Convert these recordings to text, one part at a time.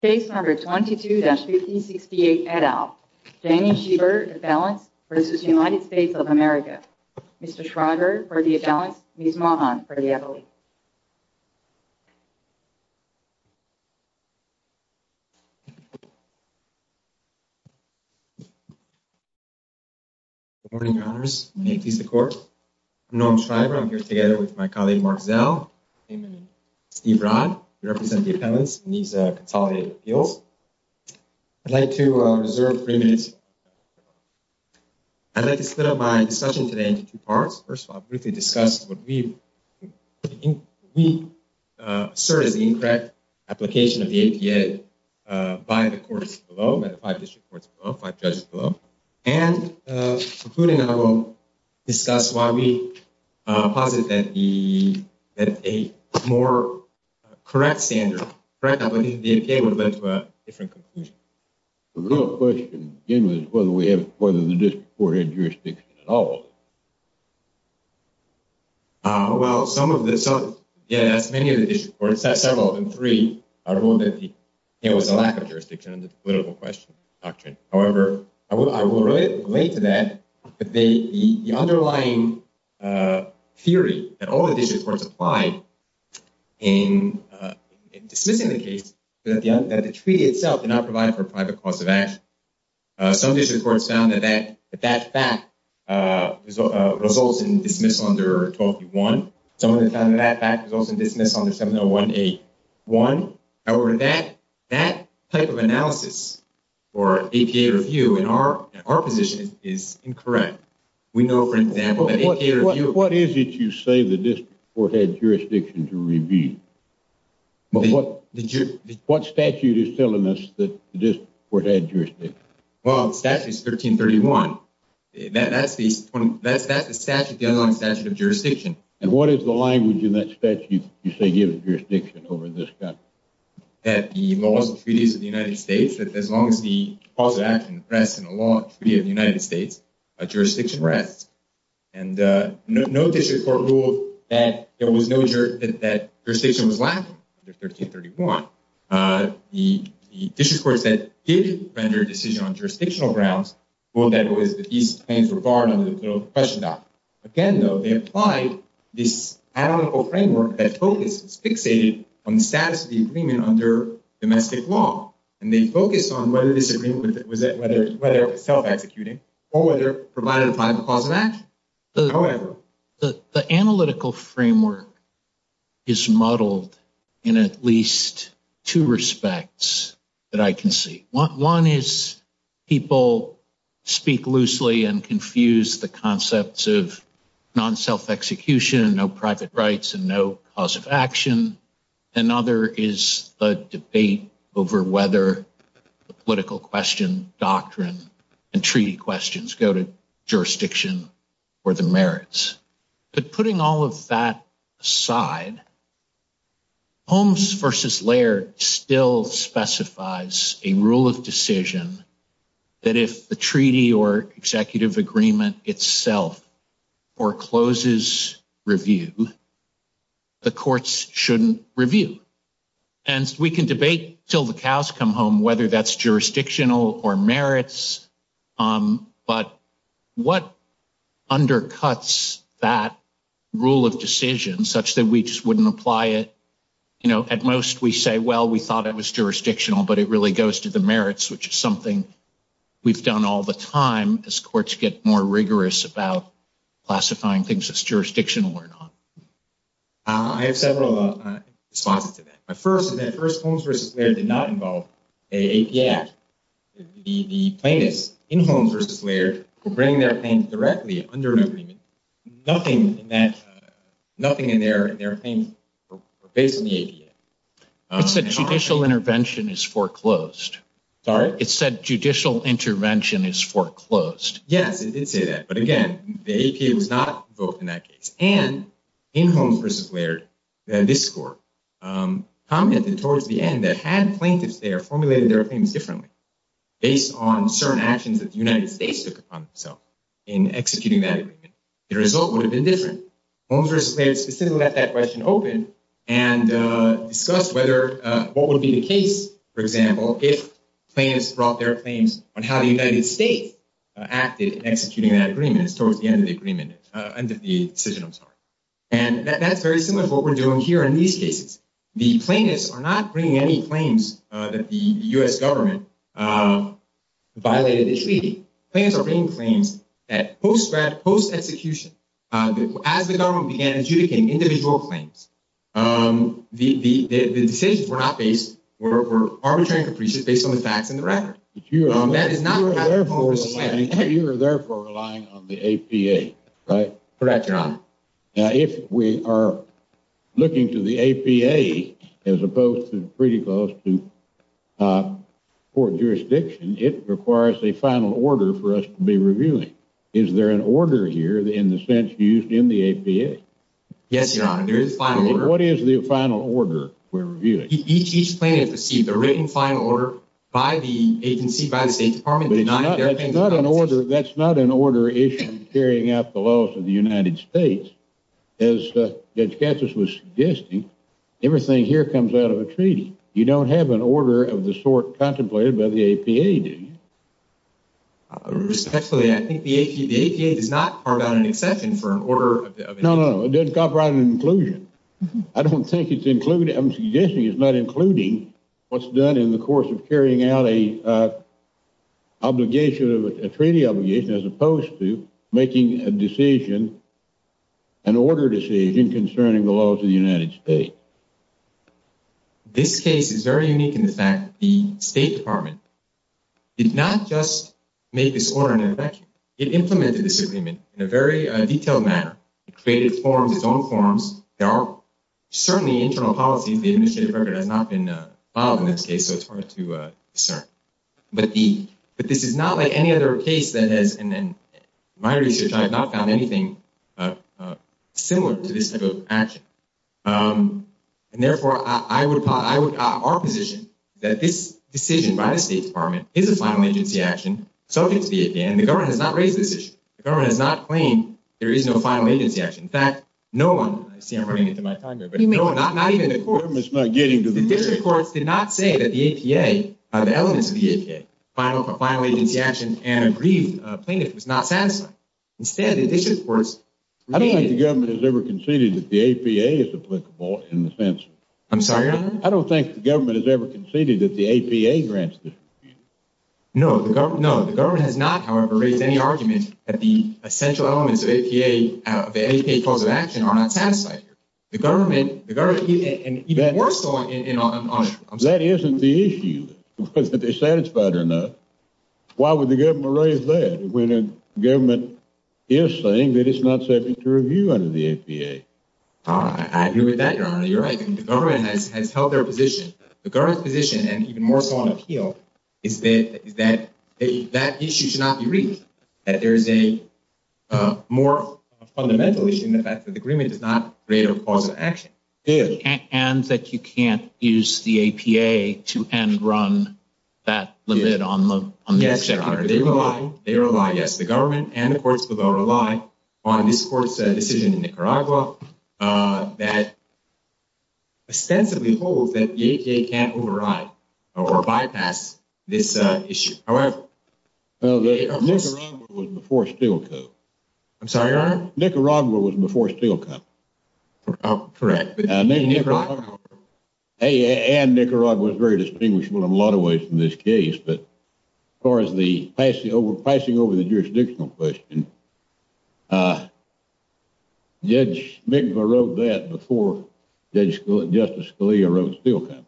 Case number 22-1568 et al. Danny Schieber, appellants, v. United States of America. Mr. Schreiber for the appellants, Ms. Mahan for the appellate. Good morning, your honors. May it please the court. I'm Norm Schreiber. I'm here together with my colleague, Mark Zell, and Steve Rodd, who represent the appellants in these consolidated appeals. I'd like to reserve three minutes. I'd like to split up my discussion today into two parts. First of all, I'll briefly discuss what we assert is the incorrect application of the APA by the courts below, by the five district courts below, five judges below. And concluding, I will discuss why we posit that a more correct standard, correct application of the APA would have led to a different conclusion. The real question is whether the district court had jurisdiction at all. Well, some of the, yes, many of the district courts, several of them, three, ruled that there was a lack of jurisdiction under the political question doctrine. However, I will relate to that, the underlying theory that all the district courts applied in dismissing the case that the treaty itself did not provide for a private cause of action. Some district courts found that that fact results in dismissal under 1231. Some of them found that fact results in dismissal under 70181. However, that type of analysis for APA review in our position is incorrect. We know, for example, that APA review… Well, the statute is 1331. That's the statute, the underlying statute of jurisdiction. And what is the language in that statute you say gives jurisdiction over this country? That the laws and treaties of the United States, that as long as the cause of action rests in the law and treaty of the United States, jurisdiction rests. And no district court ruled that jurisdiction was lacking under 1331. The district courts that did render a decision on jurisdictional grounds ruled that these claims were barred under the political question doctrine. Again, though, they applied this analytical framework that focuses, fixated on the status of the agreement under domestic law. And they focused on whether this agreement was self-executing or whether it provided a private cause of action. However, the analytical framework is muddled in at least two respects that I can see. One is people speak loosely and confuse the concepts of non-self-execution and no private rights and no cause of action. Another is a debate over whether the political question doctrine and treaty questions go to jurisdiction or the merits. But putting all of that aside, Holmes versus Laird still specifies a rule of decision that if the treaty or executive agreement itself forecloses review, the courts shouldn't review. And we can debate till the cows come home whether that's jurisdictional or merits. But what undercuts that rule of decision such that we just wouldn't apply it? You know, at most we say, well, we thought it was jurisdictional, but it really goes to the merits, which is something we've done all the time as courts get more rigorous about classifying things as jurisdictional or not. I have several responses to that. My first is that Holmes versus Laird did not involve an AP Act. The plaintiffs in Holmes versus Laird were bringing their claims directly under an agreement. Nothing in their claims were based on the AP Act. It said judicial intervention is foreclosed. Sorry? It said judicial intervention is foreclosed. Yes, it did say that. But, again, the AP Act was not invoked in that case. And in Holmes versus Laird, this court commented towards the end that had plaintiffs there formulated their claims differently, based on certain actions that the United States took upon themselves in executing that agreement, the result would have been different. Holmes versus Laird specifically left that question open and discussed what would be the case, for example, if plaintiffs brought their claims on how the United States acted in executing that agreement towards the end of the decision. And that's very similar to what we're doing here in these cases. The plaintiffs are not bringing any claims that the U.S. government violated the treaty. The plaintiffs are bringing claims that post-execution, as the government began adjudicating individual claims, the decisions were not based, were arbitrary and capricious based on the facts in the record. That is not what happened in Holmes versus Laird. You are therefore relying on the APA, right? Correct, Your Honor. Now, if we are looking to the APA, as opposed to pretty close to court jurisdiction, it requires a final order for us to be reviewing. Is there an order here in the sense used in the APA? Yes, Your Honor, there is a final order. What is the final order we're reviewing? Each plaintiff received a written final order by the agency, by the State Department, denying their claims. That's not an order issued in carrying out the laws of the United States. As Judge Gatsas was suggesting, everything here comes out of a treaty. You don't have an order of the sort contemplated by the APA, do you? Respectfully, I think the APA does not carve out an exception for an order of the sort. No, no, no, it doesn't carve out an inclusion. I'm suggesting it's not including what's done in the course of carrying out a treaty obligation as opposed to making an order decision concerning the laws of the United States. This case is very unique in the fact that the State Department did not just make this order an exception. It implemented this agreement in a very detailed manner. It created its own forms. There are certainly internal policies. The administrative record has not been filed in this case, so it's hard to discern. But this is not like any other case that has, in my research, I have not found anything similar to this type of action. And therefore, our position is that this decision by the State Department is a final agency action subject to the APA, and the government has not raised this issue. The government has not claimed there is no final agency action. In fact, no one, I see I'm running into my time here, but no, not even the courts. The district courts did not say that the APA, the elements of the APA, a final agency action and a brief plaintiff was not satisfied. Instead, the district courts… I don't think the government has ever conceded that the APA is applicable in the sense… I'm sorry, Your Honor? I don't think the government has ever conceded that the APA grants the… No, the government has not, however, raised any argument that the essential elements of APA, of the APA cause of action are not satisfied. The government, and even more so… That isn't the issue, whether they're satisfied or not. Why would the government raise that when the government is saying that it's not safe to review under the APA? I agree with that, Your Honor. You're right. The government has held their position. The government's position, and even more so on appeal, is that that issue should not be raised. That there is a more fundamental issue in the fact that the agreement does not create a cause of action. And that you can't use the APA to end run that limit on the executive agreement. Yes, Your Honor. They rely, yes, the government and the courts will rely on this court's decision in Nicaragua that ostensibly holds that the APA can't override or bypass this issue. However… Well, Nicaragua was before Steelco. I'm sorry, Your Honor? Nicaragua was before Steelco. Oh, correct. And Nicaragua is very distinguishable in a lot of ways in this case. But as far as the passing over the jurisdictional question, Judge McIver wrote that before Justice Scalia wrote Steelco,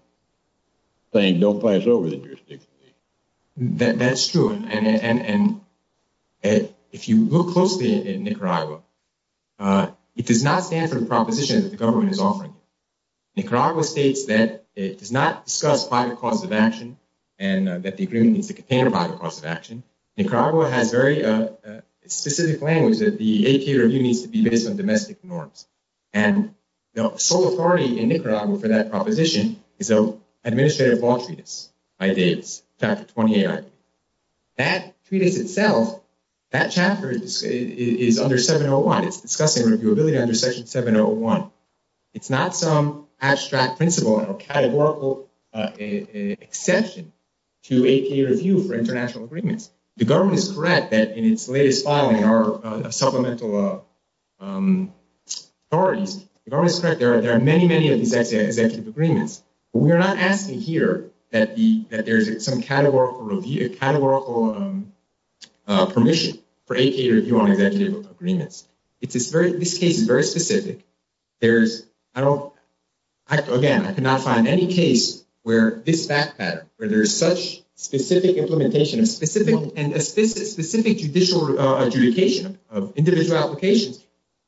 saying don't pass over the jurisdictional issue. That's true. And if you look closely at Nicaragua, it does not stand for the proposition that the government is offering. Nicaragua states that it does not discuss private causes of action and that the agreement needs to contain a private cause of action. Nicaragua has very specific language that the APA review needs to be based on domestic norms. And the sole authority in Nicaragua for that proposition is an administrative law treatise by Davis, Chapter 28. That treatise itself, that chapter is under 701. It's discussing reviewability under Section 701. It's not some abstract principle or categorical exception to APA review for international agreements. The government is correct that in its latest filing, our supplemental authorities, the government is correct. There are many, many of these executive agreements. We are not asking here that there is some categorical review, categorical permission for APA review on executive agreements. This case is very specific. Again, I cannot find any case where this fact pattern, where there is such specific implementation and specific judicial adjudication of individual applications,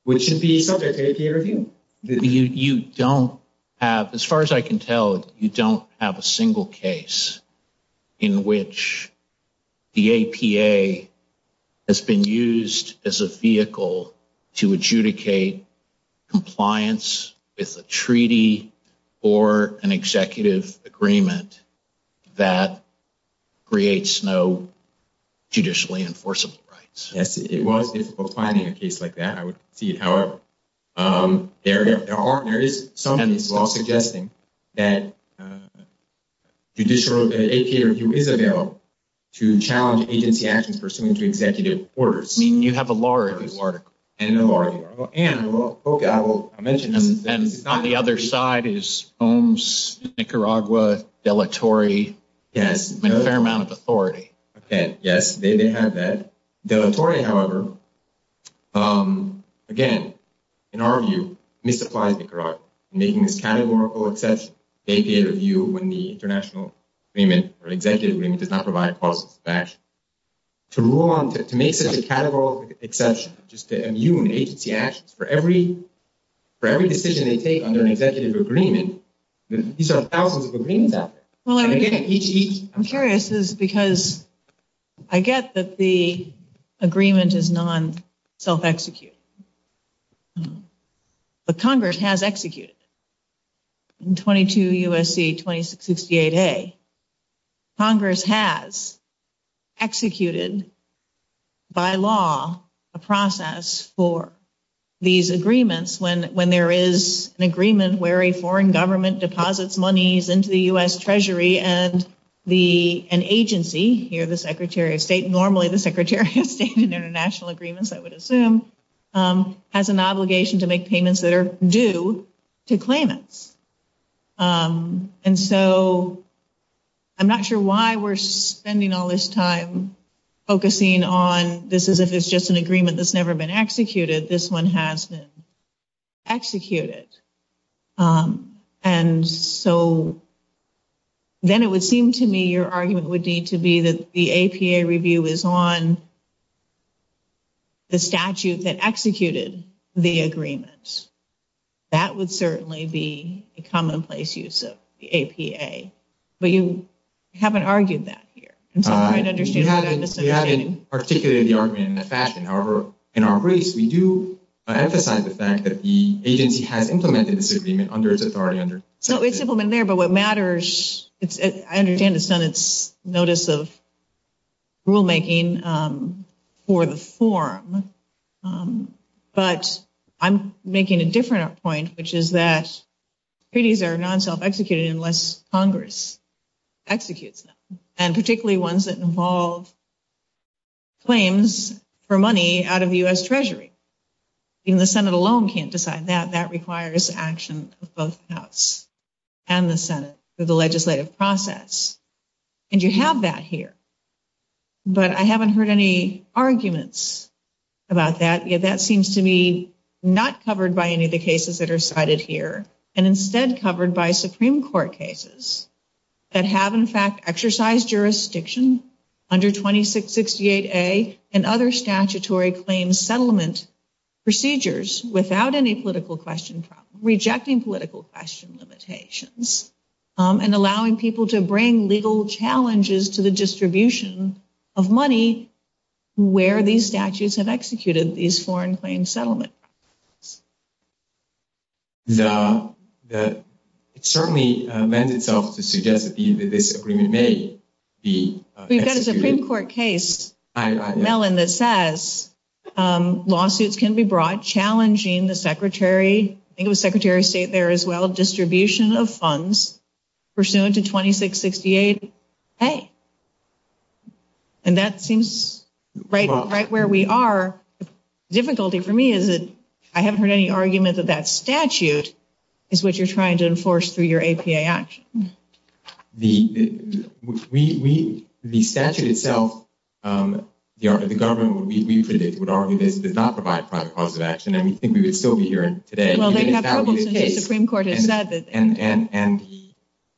which should be subject to APA review. You don't have, as far as I can tell, you don't have a single case in which the APA has been used as a vehicle to adjudicate compliance with a treaty or an executive agreement that creates no judicially enforceable rights. Yes, it was difficult finding a case like that. I would see it. However, there is some case law suggesting that judicial APA review is available to challenge agency actions pursuant to executive orders. You have a law review article. And a law review article. And on the other side is HOMS, Nicaragua, deletory. Yes. A fair amount of authority. Okay. Yes, they have that. Deletory, however, again, in our view, misapplies Nicaragua in making this categorical exception to APA review when the international agreement or executive agreement does not provide policies of action. To rule on, to make such a categorical exception just to immune agency actions for every decision they take under an executive agreement, these are thousands of agreements out there. I'm curious because I get that the agreement is non-self-executive. But Congress has executed it. And when there is an agreement where a foreign government deposits monies into the U.S. Treasury and an agency, here the Secretary of State, normally the Secretary of State in international agreements, I would assume, has an obligation to make payments that are due to claimants. And so I'm not sure why we're spending all this time focusing on this as if it's just an agreement that's never been executed. This one has been executed. And so then it would seem to me your argument would need to be that the APA review is on the statute that executed the agreement. That would certainly be a commonplace use of the APA. But you haven't argued that here. We haven't articulated the argument in that fashion. However, in our briefs, we do emphasize the fact that the agency has implemented this agreement under its authority. So it's implemented there. But what matters, I understand it's done its notice of rulemaking for the forum. But I'm making a different point, which is that treaties are non-self-executed unless Congress executes them, and particularly ones that involve claims for money out of the U.S. Treasury. Even the Senate alone can't decide that. That requires action of both the House and the Senate through the legislative process. And you have that here. But I haven't heard any arguments about that. Yet that seems to me not covered by any of the cases that are cited here, and instead covered by Supreme Court cases that have, in fact, exercised jurisdiction under 2668A and other statutory claims settlement procedures without any political question problem, and allowing people to bring legal challenges to the distribution of money where these statutes have executed these foreign claim settlement. It certainly lends itself to suggest that this agreement may be executed. We've got a Supreme Court case, Mellon, that says lawsuits can be brought challenging the Secretary, I think it was Secretary of State there as well, distribution of funds pursuant to 2668A. And that seems right where we are. The difficulty for me is that I haven't heard any argument that that statute is what you're trying to enforce through your APA action. The statute itself, the government, we predict, would argue that it does not provide a private cause of action, and we think we would still be hearing today. Well, they'd have problems since the Supreme Court has said that.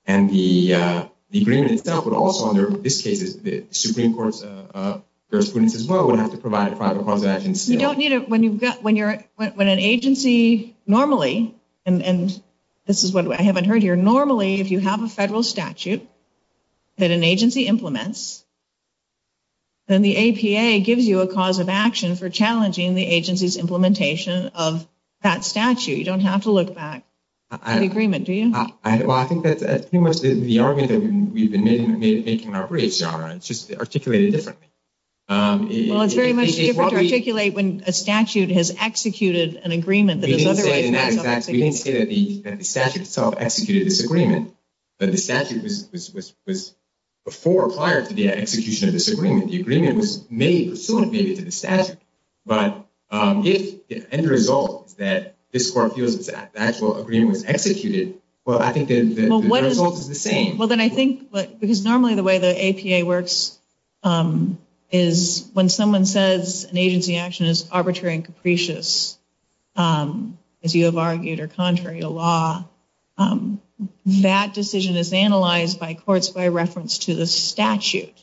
And the agreement itself would also, under this case, the Supreme Court's jurisprudence as well, would have to provide a private cause of action still. When an agency normally, and this is what I haven't heard here, normally if you have a federal statute that an agency implements, then the APA gives you a cause of action for challenging the agency's implementation of that statute. You don't have to look back at the agreement, do you? Well, I think that's pretty much the argument that we've been making in our briefs, it's just articulated differently. Well, it's very much different to articulate when a statute has executed an agreement that has otherwise not executed. We didn't say that the statute itself executed this agreement, but the statute was before or prior to the execution of this agreement. The agreement was made pursuant, maybe, to the statute. But if the end result is that this court feels that the actual agreement was executed, well, I think the result is the same. Well, then I think, because normally the way the APA works is when someone says an agency action is arbitrary and capricious, as you have argued, or contrary to law, that decision is analyzed by courts by reference to the statute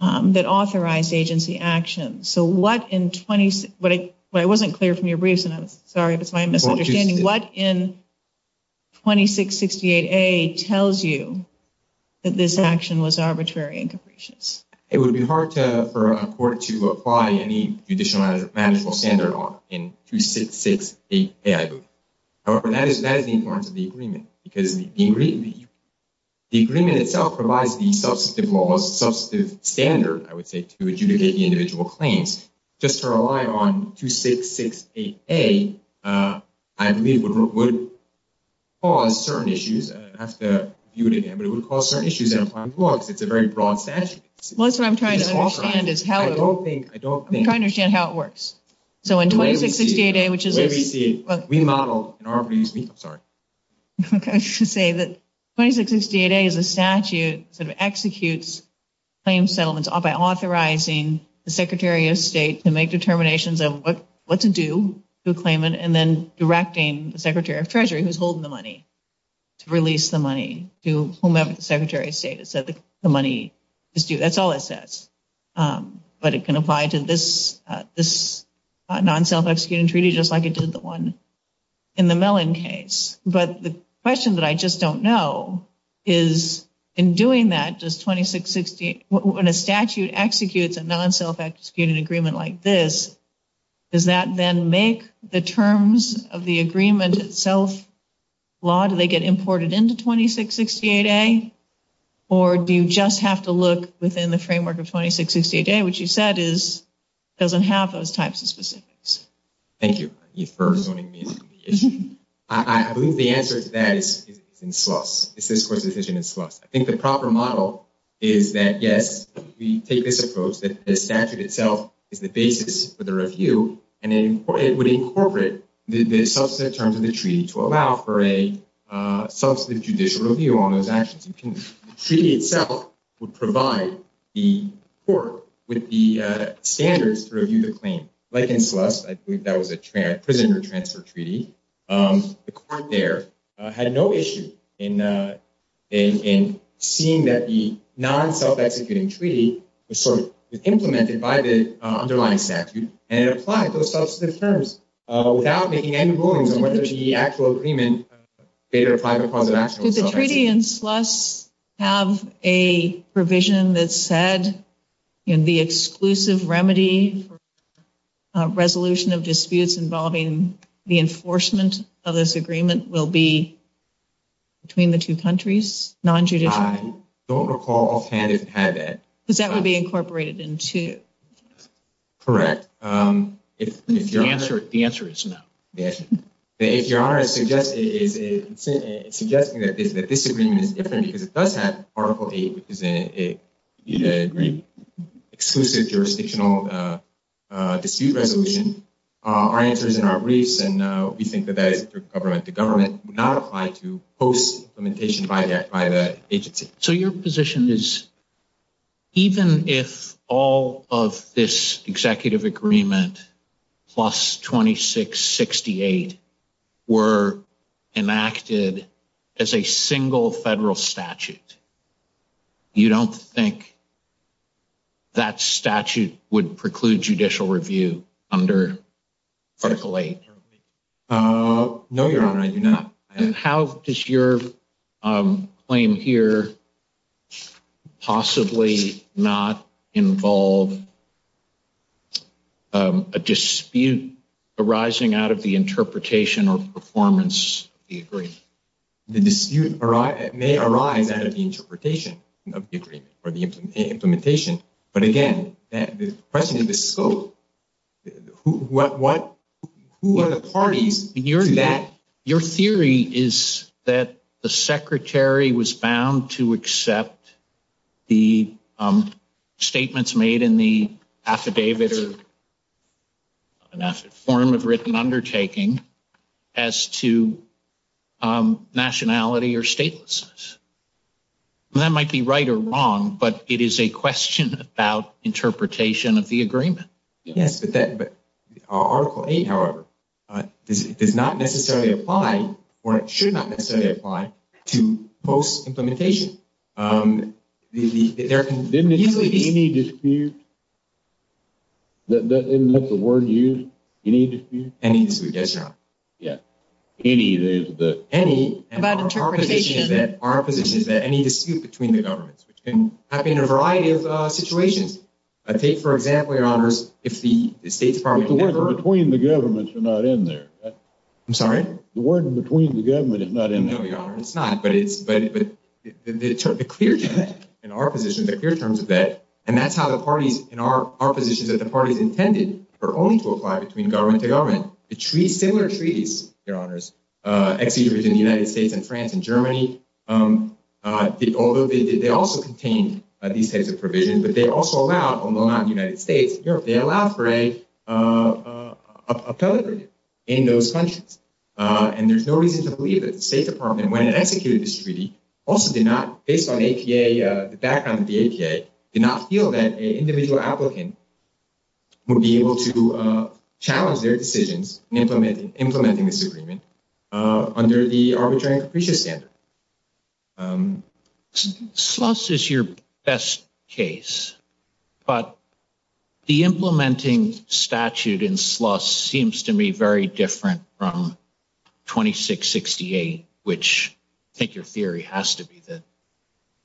that authorized agency action. I wasn't clear from your briefs, and I'm sorry if it's my misunderstanding. What in 2668A tells you that this action was arbitrary and capricious? It would be hard for a court to apply any judicial management standard law in 2668A. However, that is the importance of the agreement, because the agreement itself provides the substantive laws, the substantive standard, I would say, to adjudicate the individual claims. Just to rely on 2668A, I believe, would cause certain issues. I'd have to view it again, but it would cause certain issues in applying the law, because it's a very broad statute. Well, that's what I'm trying to understand is how it works. So in 2668A, which is a statute that executes claim settlements by authorizing the Secretary of State to make determinations of what to do to a claimant and then directing the Secretary of Treasury, who's holding the money, to release the money to whomever the Secretary of State has said the money is due. That's all it says. But it can apply to this non-self-executing treaty just like it did the one in the Mellon case. But the question that I just don't know is, in doing that, when a statute executes a non-self-executing agreement like this, does that then make the terms of the agreement itself law? Do they get imported into 2668A? Or do you just have to look within the framework of 2668A, which you said doesn't have those types of specifics? Thank you for zoning me into the issue. I believe the answer to that is in slush. It's this Court's decision in slush. I think the proper model is that, yes, we take this approach that the statute itself is the basis for the review, and it would incorporate the substantive terms of the treaty to allow for a substantive judicial review on those actions. The treaty itself would provide the Court with the standards to review the claim. Like in slush, I believe that was a prisoner transfer treaty. The Court there had no issue in seeing that the non-self-executing treaty was implemented by the underlying statute, and it applied those substantive terms without making any rulings on whether the actual agreement made or applied the cause of action. Did the treaty in slush have a provision that said the exclusive remedy for resolution of disputes involving the enforcement of this agreement will be between the two countries, non-judicial? I don't recall offhand it had that. Because that would be incorporated in two. Correct. The answer is no. If Your Honor is suggesting that this agreement is different because it does have Article VIII, which is an exclusive jurisdictional dispute resolution, our answer is in our briefs, and we think that that is through government. The government would not apply to post-implementation by the agency. So your position is even if all of this executive agreement plus 2668 were enacted as a single federal statute, you don't think that statute would preclude judicial review under Article VIII? No, Your Honor, I do not. How does your claim here possibly not involve a dispute arising out of the interpretation or performance of the agreement? The dispute may arise out of the interpretation of the agreement or the implementation. But again, the question is the scope. Who are the parties to that? Your theory is that the Secretary was bound to accept the statements made in the affidavit or form of written undertaking as to nationality or statelessness. That might be right or wrong, but it is a question about interpretation of the agreement. Yes, but Article VIII, however, does not necessarily apply, or it should not necessarily apply, to post-implementation. Didn't it say any dispute? Didn't the word use any dispute? Any dispute, yes, Your Honor. Any is the… Any, and our position is that any dispute between the governments, which can happen in a variety of situations. Take, for example, Your Honors, if the State Department… But the word between the governments are not in there. I'm sorry? The word between the governments is not in there. No, Your Honor, it's not. But the clear terms in our position, the clear terms of that, and that's how the parties in our positions that the parties intended are only to apply between government to government. Similar treaties, Your Honors, ex-siege between the United States and France and Germany, although they also contained these types of provisions, but they also allowed, although not in the United States, Europe, they allowed for a… In those countries. And there's no reason to believe that the State Department, when it executed this treaty, also did not, based on APA, the background of the APA, did not feel that an individual applicant would be able to challenge their decisions in implementing this agreement under the arbitrary and capricious standard. SLUS is your best case, but the implementing statute in SLUS seems to me very different from 2668, which I think your theory has to be that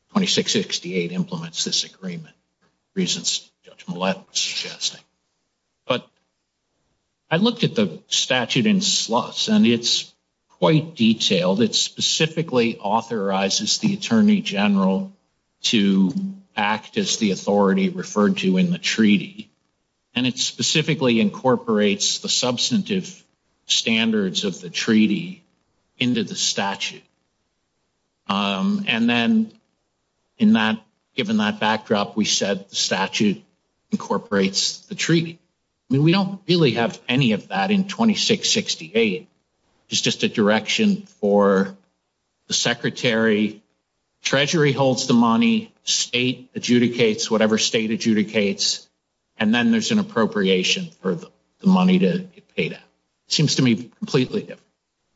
2668 implements this agreement, reasons Judge Millett was suggesting. But I looked at the statute in SLUS, and it's quite detailed. It specifically authorizes the Attorney General to act as the authority referred to in the treaty, and it specifically incorporates the substantive standards of the treaty into the statute. And then, given that backdrop, we said the statute incorporates the treaty. I mean, we don't really have any of that in 2668. It's just a direction for the Secretary, Treasury holds the money, State adjudicates whatever State adjudicates, and then there's an appropriation for the money to get paid out. It seems to me completely different.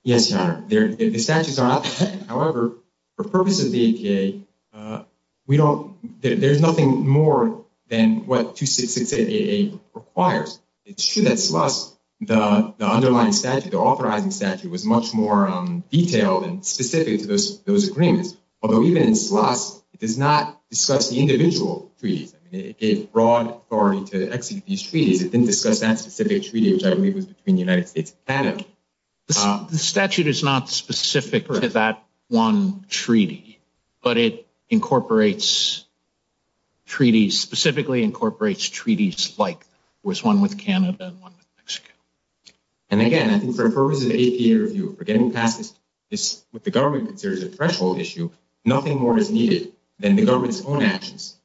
Yes, Your Honor, the statutes are not the same. However, for purposes of the APA, there's nothing more than what 2668A requires. It's true that SLUS, the underlying statute, the authorizing statute, was much more detailed and specific to those agreements. Although, even in SLUS, it does not discuss the individual treaties. It gave broad authority to execute these treaties. It didn't discuss that specific treaty, which I believe was between the United States and Canada. The statute is not specific to that one treaty, but it incorporates treaties, specifically incorporates treaties like there was one with Canada and one with Mexico. And again, I think for purposes of the APA review, for getting past this, what the government considers a threshold issue, nothing more is needed than the government's own actions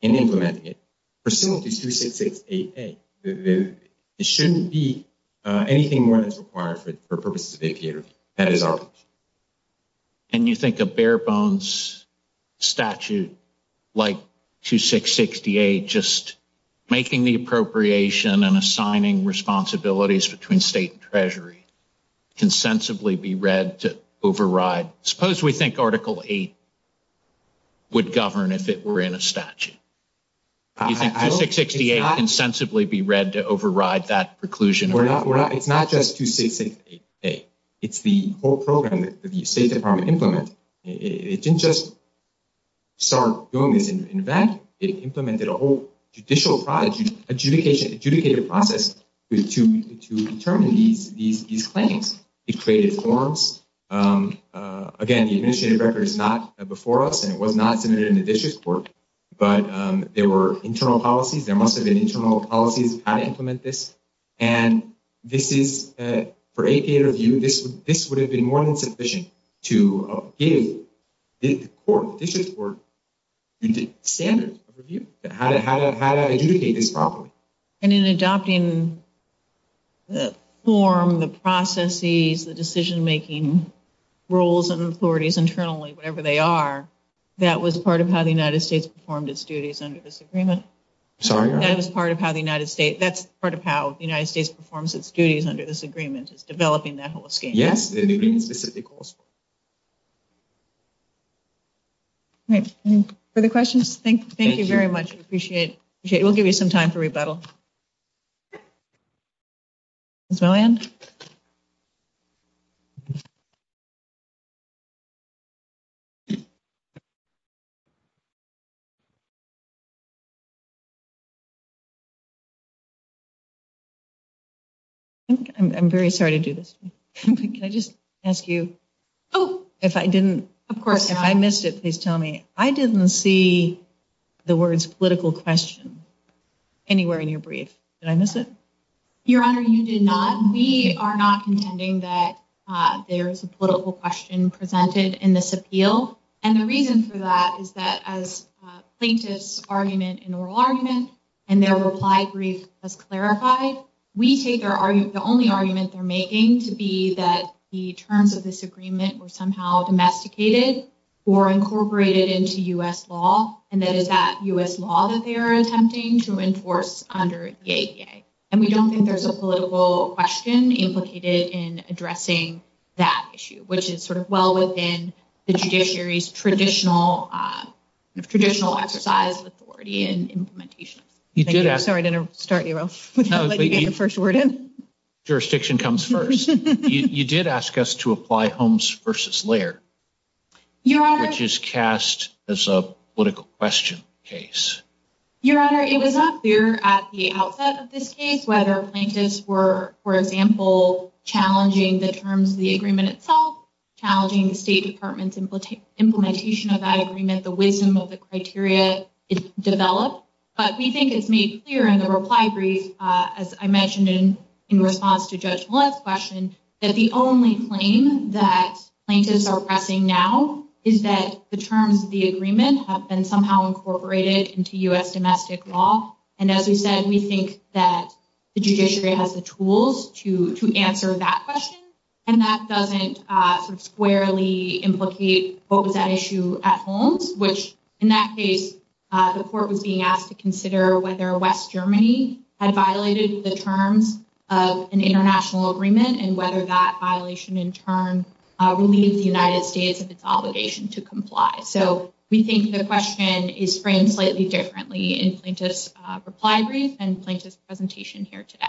in implementing it. It shouldn't be anything more that's required for purposes of the APA review. And you think a bare-bones statute like 2668, just making the appropriation and assigning responsibilities between State and Treasury, can sensibly be read to override? Suppose we think Article 8 would govern if it were in a statute. Do you think 2668 can sensibly be read to override that preclusion? Well, it's not just 2668. It's the whole program that the State Department implemented. It didn't just start doing this. In fact, it implemented a whole judicial process to determine these claims. It created forms. Again, the administrative record is not before us, and it was not submitted in the district court. But there were internal policies. There must have been internal policies on how to implement this. And this is, for APA review, this would have been more than sufficient to give the court, the district court, standards of review, how to adjudicate this properly. And in adopting the form, the processes, the decision-making rules and authorities internally, whatever they are, that was part of how the United States performed its duties under this agreement? Sorry? That was part of how the United States – that's part of how the United States performs its duties under this agreement, is developing that whole scheme. Yes, the agreement specifically calls for it. Great. Any further questions? Thank you very much. We appreciate it. We'll give you some time for rebuttal. Ms. Milland? I'm very sorry to do this to you. Can I just ask you – if I didn't – if I missed it, please tell me. I didn't see the words political question anywhere in your brief. Did I miss it? Your Honor, you did not. We are not contending that there is a political question presented in this appeal. And the reason for that is that as plaintiffs' argument and oral argument and their reply brief has clarified, we take their – the only argument they're making to be that the terms of this agreement were somehow domesticated or incorporated into U.S. law, and that is that U.S. law that they are attempting to enforce under the ADA. And we don't think there's a political question implicated in addressing that issue, which is sort of well within the judiciary's traditional exercise of authority and implementation. Thank you. I'm sorry I didn't start you off without letting you get the first word in. Jurisdiction comes first. You did ask us to apply Holmes v. Laird, which is cast as a political question case. Your Honor, it was not clear at the outset of this case whether plaintiffs were, for example, challenging the terms of the agreement itself, challenging the State Department's implementation of that agreement, the wisdom of the criteria developed. But we think it's made clear in the reply brief, as I mentioned in response to Judge Millett's question, that the only claim that plaintiffs are pressing now is that the terms of the agreement have been somehow incorporated into U.S. domestic law. And as we said, we think that the judiciary has the tools to answer that question, and that doesn't sort of squarely implicate what was at issue at Holmes, which in that case, the court was being asked to consider whether West Germany had violated the terms of an international agreement and whether that violation in turn relieved the United States of its obligation to comply. So we think the question is framed slightly differently in Plaintiff's reply brief and Plaintiff's presentation here today.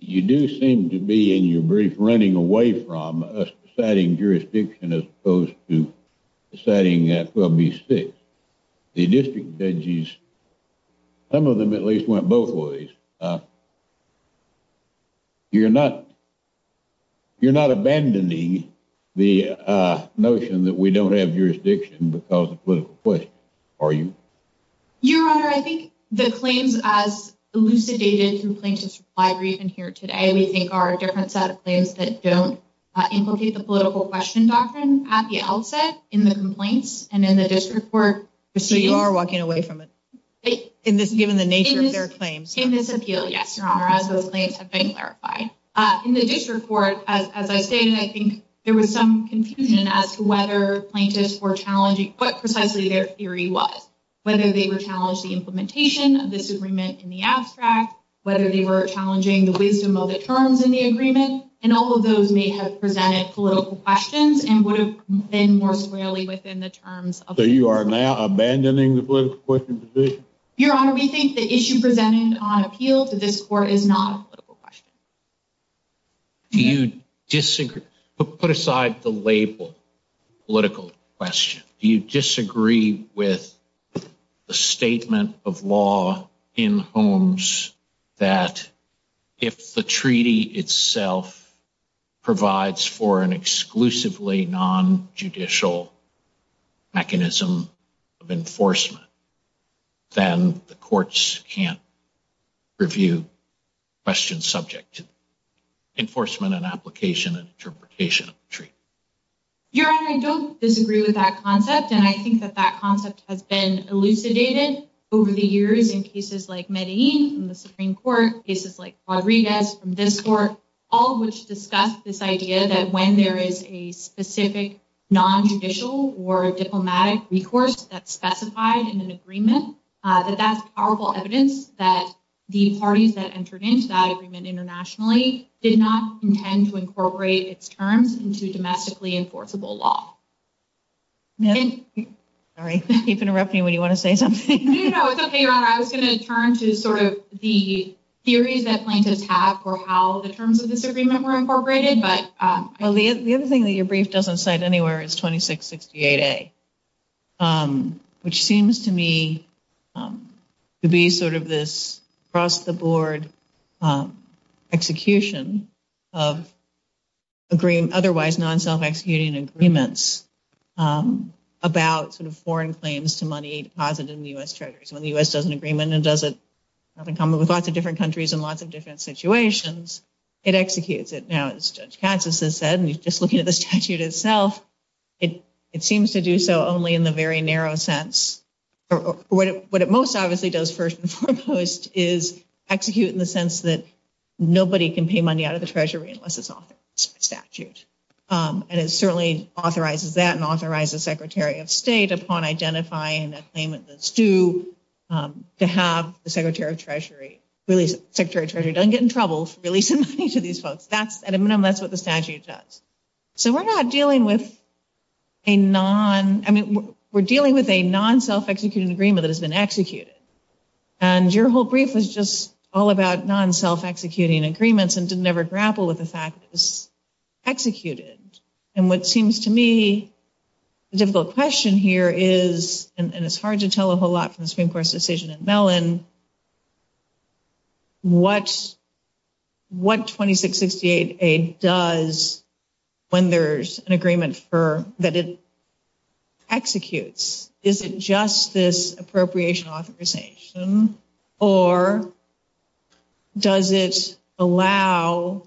You do seem to be, in your brief, running away from deciding jurisdiction as opposed to deciding 12B6. The district judges, some of them at least, went both ways. You're not abandoning the notion that we don't have jurisdiction because of political questions, are you? Your Honor, I think the claims as elucidated through Plaintiff's reply brief and here today, we think are a different set of claims that don't implicate the political question doctrine at the outset in the complaints and in the district court. So you are walking away from it, given the nature of their claims? In this appeal, yes, Your Honor, as those claims have been clarified. In the district court, as I stated, I think there was some confusion as to whether plaintiffs were challenging what precisely their theory was, whether they were challenged the implementation of this agreement in the abstract, whether they were challenging the wisdom of the terms in the agreement. And all of those may have presented political questions and would have been more squarely within the terms. So you are now abandoning the political question position? Your Honor, we think the issue presented on appeal to this court is not a political question. Do you disagree? Put aside the label political question. Do you disagree with the statement of law in homes that if the treaty itself provides for an exclusively non-judicial mechanism of enforcement, then the courts can't review questions subject to enforcement and application and interpretation of the treaty? Your Honor, I don't disagree with that concept, and I think that that concept has been elucidated over the years in cases like Medellin in the Supreme Court, cases like Rodriguez from this court, all of which discuss this idea that when there is a specific non-judicial or diplomatic recourse that's specified in an agreement, that that's powerful evidence that the parties that entered into that agreement internationally did not intend to incorporate its terms into domestically enforceable law. Sorry, you keep interrupting me when you want to say something. No, no, it's okay, Your Honor. I was going to turn to sort of the theories that plaintiffs have for how the terms of this agreement were incorporated. Well, the other thing that your brief doesn't cite anywhere is 2668A, which seems to me to be sort of this cross-the-board execution of otherwise non-self-executing agreements about sort of foreign claims to money deposited in the U.S. Treasuries. When the U.S. does an agreement and does it, having come up with lots of different countries and lots of different situations, it executes it. Now, as Judge Katz has said, and just looking at the statute itself, it seems to do so only in the very narrow sense. What it most obviously does first and foremost is execute in the sense that nobody can pay money out of the Treasury unless it's authored by statute. And it certainly authorizes that and authorizes the Secretary of State, upon identifying a claimant that's due, to have the Secretary of Treasury release it. The Secretary of Treasury doesn't get in trouble for releasing money to these folks. At a minimum, that's what the statute does. So we're dealing with a non-self-executing agreement that has been executed. And your whole brief was just all about non-self-executing agreements and didn't ever grapple with the fact that it was executed. And what seems to me a difficult question here is, and it's hard to tell a whole lot from the Supreme Court's decision in Mellon, what 2668A does when there's an agreement that it executes? Is it just this appropriation authorization, or does it somehow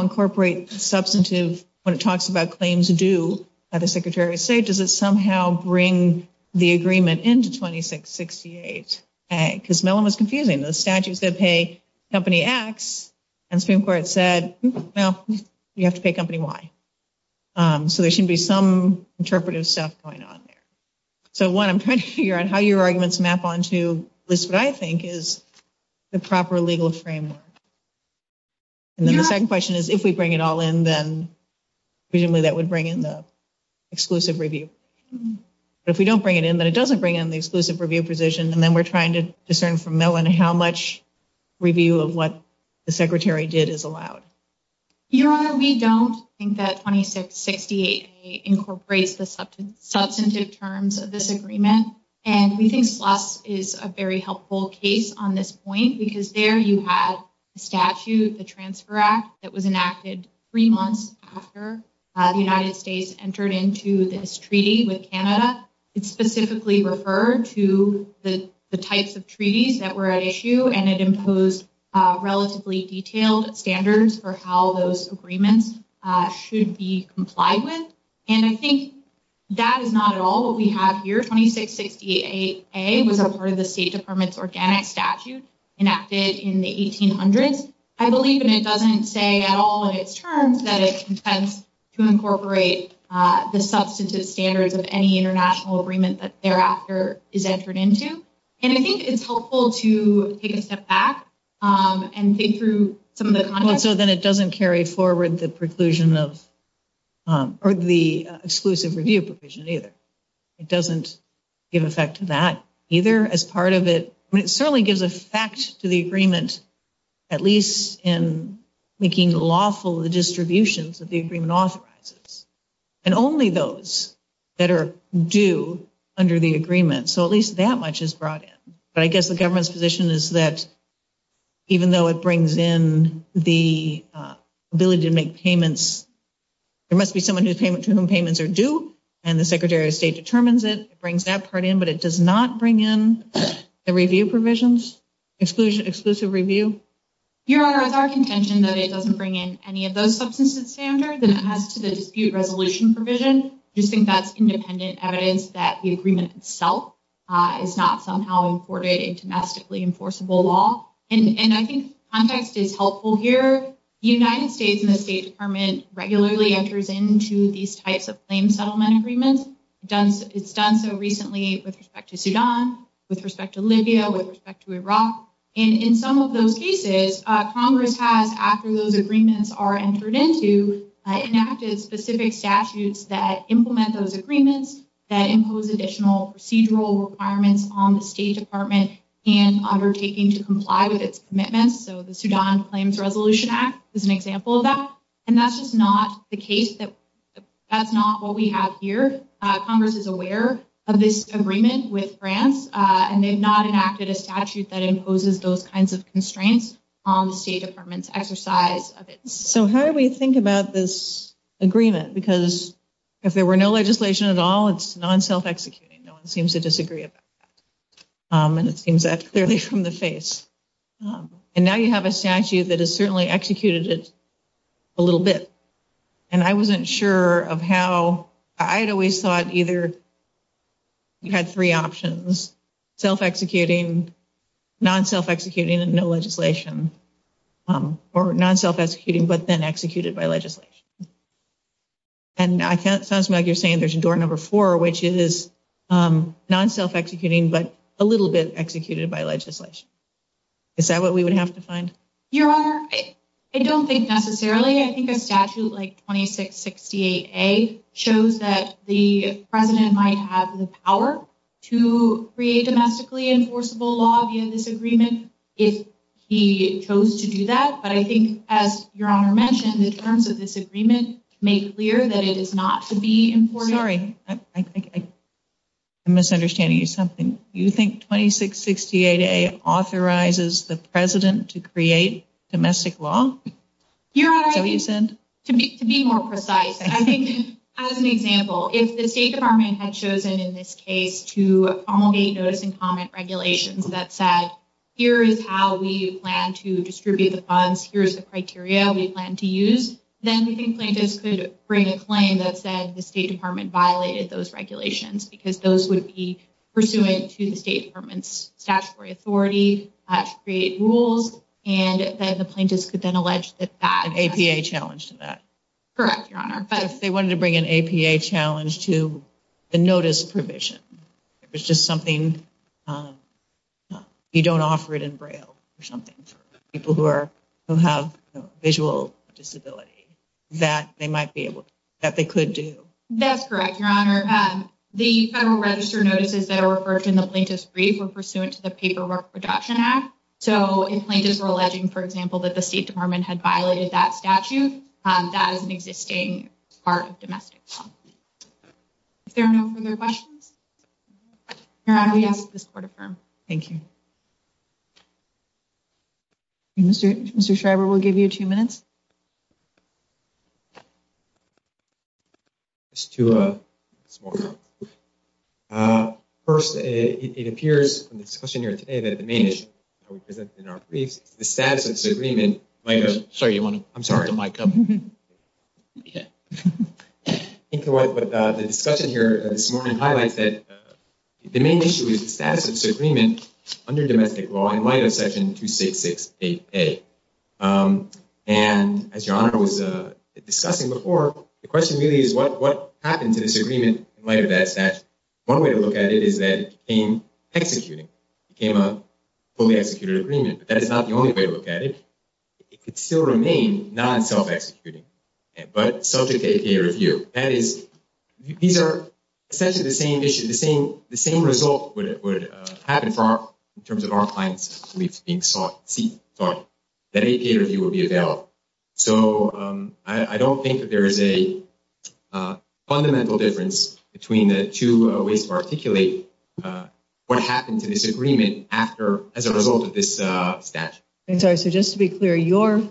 incorporate substantive when it talks about claims due by the Secretary of State? Does it somehow bring the agreement into 2668A? Because Mellon was confusing. The statute said pay Company X, and the Supreme Court said, well, you have to pay Company Y. So there should be some interpretive stuff going on there. So one, I'm trying to figure out how your arguments map onto what I think is the proper legal framework. And then the second question is, if we bring it all in, then presumably that would bring in the exclusive review. But if we don't bring it in, then it doesn't bring in the exclusive review position, and then we're trying to discern from Mellon how much review of what the Secretary did is allowed. Your Honor, we don't think that 2668A incorporates the substantive terms of this agreement, and we think SLUS is a very helpful case on this point, because there you had the statute, the Transfer Act, that was enacted three months after the United States entered into this treaty with Canada. It specifically referred to the types of treaties that were at issue, and it imposed relatively detailed standards for how those agreements should be complied with. And I think that is not at all what we have here. 2668A was a part of the State Department's organic statute enacted in the 1800s. I believe, and it doesn't say at all in its terms, that it intends to incorporate the substantive standards of any international agreement that thereafter is entered into. And I think it's helpful to take a step back and think through some of the context. Well, so then it doesn't carry forward the preclusion of, or the exclusive review provision either. It doesn't give effect to that either as part of it. I mean, it certainly gives effect to the agreement, at least in making lawful the distributions that the agreement authorizes, and only those that are due under the agreement. So at least that much is brought in. But I guess the government's position is that even though it brings in the ability to make payments, there must be someone to whom payments are due, and the Secretary of State determines it, it brings that part in, but it does not bring in the review provisions, exclusive review? Your Honor, it's our contention that it doesn't bring in any of those substantive standards, and it has to the dispute resolution provision. I just think that's independent evidence that the agreement itself is not somehow afforded a domestically enforceable law. And I think context is helpful here. The United States and the State Department regularly enters into these types of claim settlement agreements. It's done so recently with respect to Sudan, with respect to Libya, with respect to Iraq. And in some of those cases, Congress has, after those agreements are entered into, enacted specific statutes that implement those agreements, that impose additional procedural requirements on the State Department in undertaking to comply with its commitments. So the Sudan Claims Resolution Act is an example of that. And that's just not the case. That's not what we have here. Congress is aware of this agreement with France, and they've not enacted a statute that imposes those kinds of constraints on the State Department's exercise of it. So how do we think about this agreement? Because if there were no legislation at all, it's non-self-executing. No one seems to disagree about that. And it seems that clearly from the face. And now you have a statute that has certainly executed it a little bit. And I wasn't sure of how. I had always thought either you had three options, self-executing, non-self-executing, and no legislation, or non-self-executing but then executed by legislation. And it sounds to me like you're saying there's door number four, which is non-self-executing but a little bit executed by legislation. Is that what we would have to find? Your Honor, I don't think necessarily. I think a statute like 2668A shows that the president might have the power to create a domestically enforceable law via this agreement if he chose to do that. But I think, as Your Honor mentioned, the terms of this agreement make clear that it is not to be imported. Sorry, I'm misunderstanding you something. You think 2668A authorizes the president to create domestic law? Your Honor, to be more precise, I think as an example, if the State Department had chosen in this case to promulgate notice and comment regulations that said here is how we plan to distribute the funds, here is the criteria we plan to use, then we think plaintiffs could bring a claim that said the State Department violated those regulations because those would be pursuant to the State Department's statutory authority to create rules, and then the plaintiffs could then allege that that was an APA challenge to that. Correct, Your Honor. But if they wanted to bring an APA challenge to the notice provision, if it's just something you don't offer it in Braille or something for people who have visual disability, that they might be able to, that they could do. That's correct, Your Honor. The Federal Register notices that are referred to in the plaintiff's brief were pursuant to the Paperwork Reduction Act. So if plaintiffs were alleging, for example, that the State Department had violated that statute, that is an existing part of domestic law. If there are no further questions, Your Honor, we ask that this Court affirm. Thank you. Mr. Schreiber, we'll give you two minutes. Just two minutes more. First, it appears in the discussion here today that at the main issue that we presented in our briefs, the status of this agreement under domestic law in light of Section 2668A. And as Your Honor was discussing before, the question really is what happened to this agreement in light of that statute. One way to look at it is that it became executed, became a fully executed agreement. But that is not the only way to look at it. It could still remain non-self-executing, but subject to APA review. That is, these are essentially the same issue, the same result would happen in terms of our clients' beliefs being sought, that APA review would be available. So I don't think that there is a fundamental difference between the two ways to articulate what happened to this agreement as a result of this statute. I'm sorry, so just to be clear, your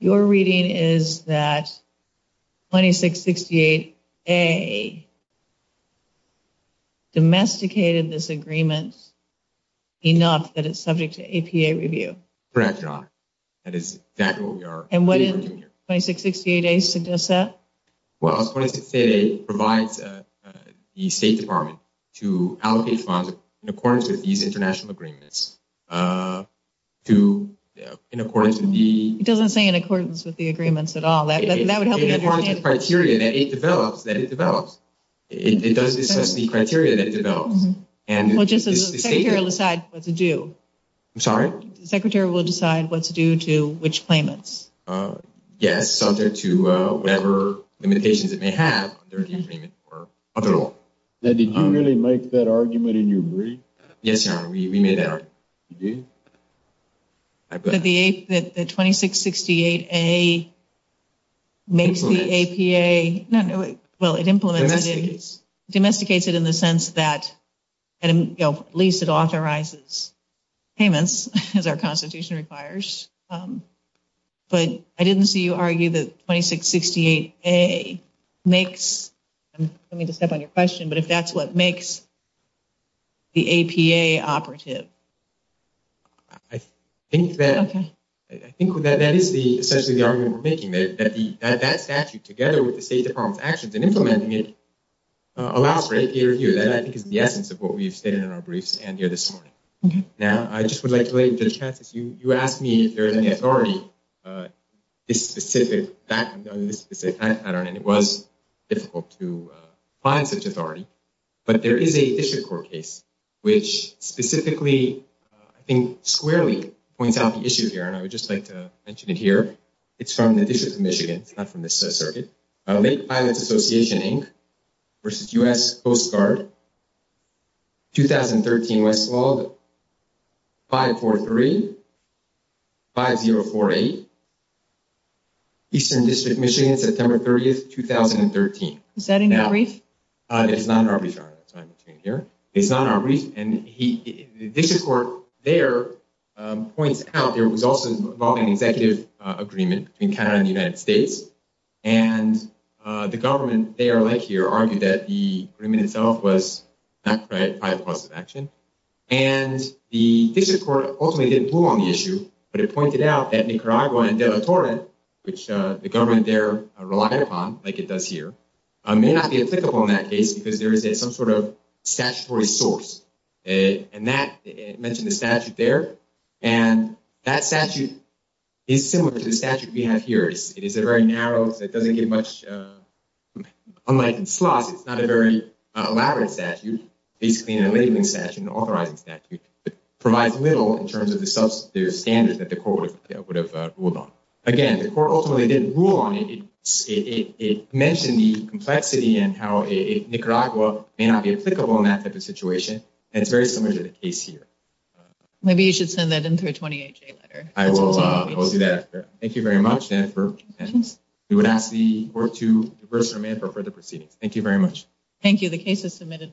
reading is that 2668A domesticated this agreement enough that it's subject to APA review? Correct, Your Honor. That is exactly what we are doing here. And what did 2668A suggest? Well, 2668A provides the State Department to allocate funds in accordance with these international agreements. It doesn't say in accordance with the agreements at all. That would help you understand. It forms the criteria that it develops. Well, just as the Secretary will decide what to do. I'm sorry? The Secretary will decide what to do to which claimants. Yes, subject to whatever limitations it may have under the agreement or under the law. Now, did you really make that argument and you agree? Yes, Your Honor. We made that argument. You did? The 2668A makes the APA... Well, it implements it. Domesticates. Domesticates it in the sense that at least it authorizes payments as our Constitution requires. But I didn't see you argue that 2668A makes... I don't mean to step on your question, but if that's what makes the APA operative. I think that is essentially the argument we're making. That statute together with the State Department's actions in implementing it allows for APA review. That I think is the essence of what we've stated in our briefs and here this morning. Now, I just would like to let you judge Francis. You asked me if there is any authority on this specific pattern and it was difficult to find such authority. But there is a district court case which specifically, I think squarely, points out the issue here. And I would just like to mention it here. It's from the District of Michigan. It's not from this circuit. Lake Pilots Association, Inc. versus U.S. Coast Guard. 2013 West Claude, 543-5048. Eastern District, Michigan, September 30th, 2013. Is that in your brief? It's not in our brief. Sorry. It's not in our brief. And the district court there points out there was also an executive agreement between Canada and the United States. And the government there, like here, argued that the agreement itself was not quite a positive action. And the district court ultimately didn't pull on the issue. But it pointed out that Nicaragua and Del Toro, which the government there relied upon, like it does here, may not be applicable in that case because there is some sort of statutory source. And that mentioned the statute there. And that statute is similar to the statute we have here. It is very narrow. It doesn't give much. Unlike in Sloss, it's not a very elaborate statute, basically a labeling statute, an authorizing statute. It provides little in terms of the substantive standards that the court would have ruled on. Again, the court ultimately didn't rule on it. It mentioned the complexity and how Nicaragua may not be applicable in that type of situation. And it's very similar to the case here. Maybe you should send that in through a 28-J letter. I will do that. Thank you very much, Dan, for your attendance. We would ask the court to reverse their amendment for further proceedings. Thank you very much. Thank you. The case is submitted.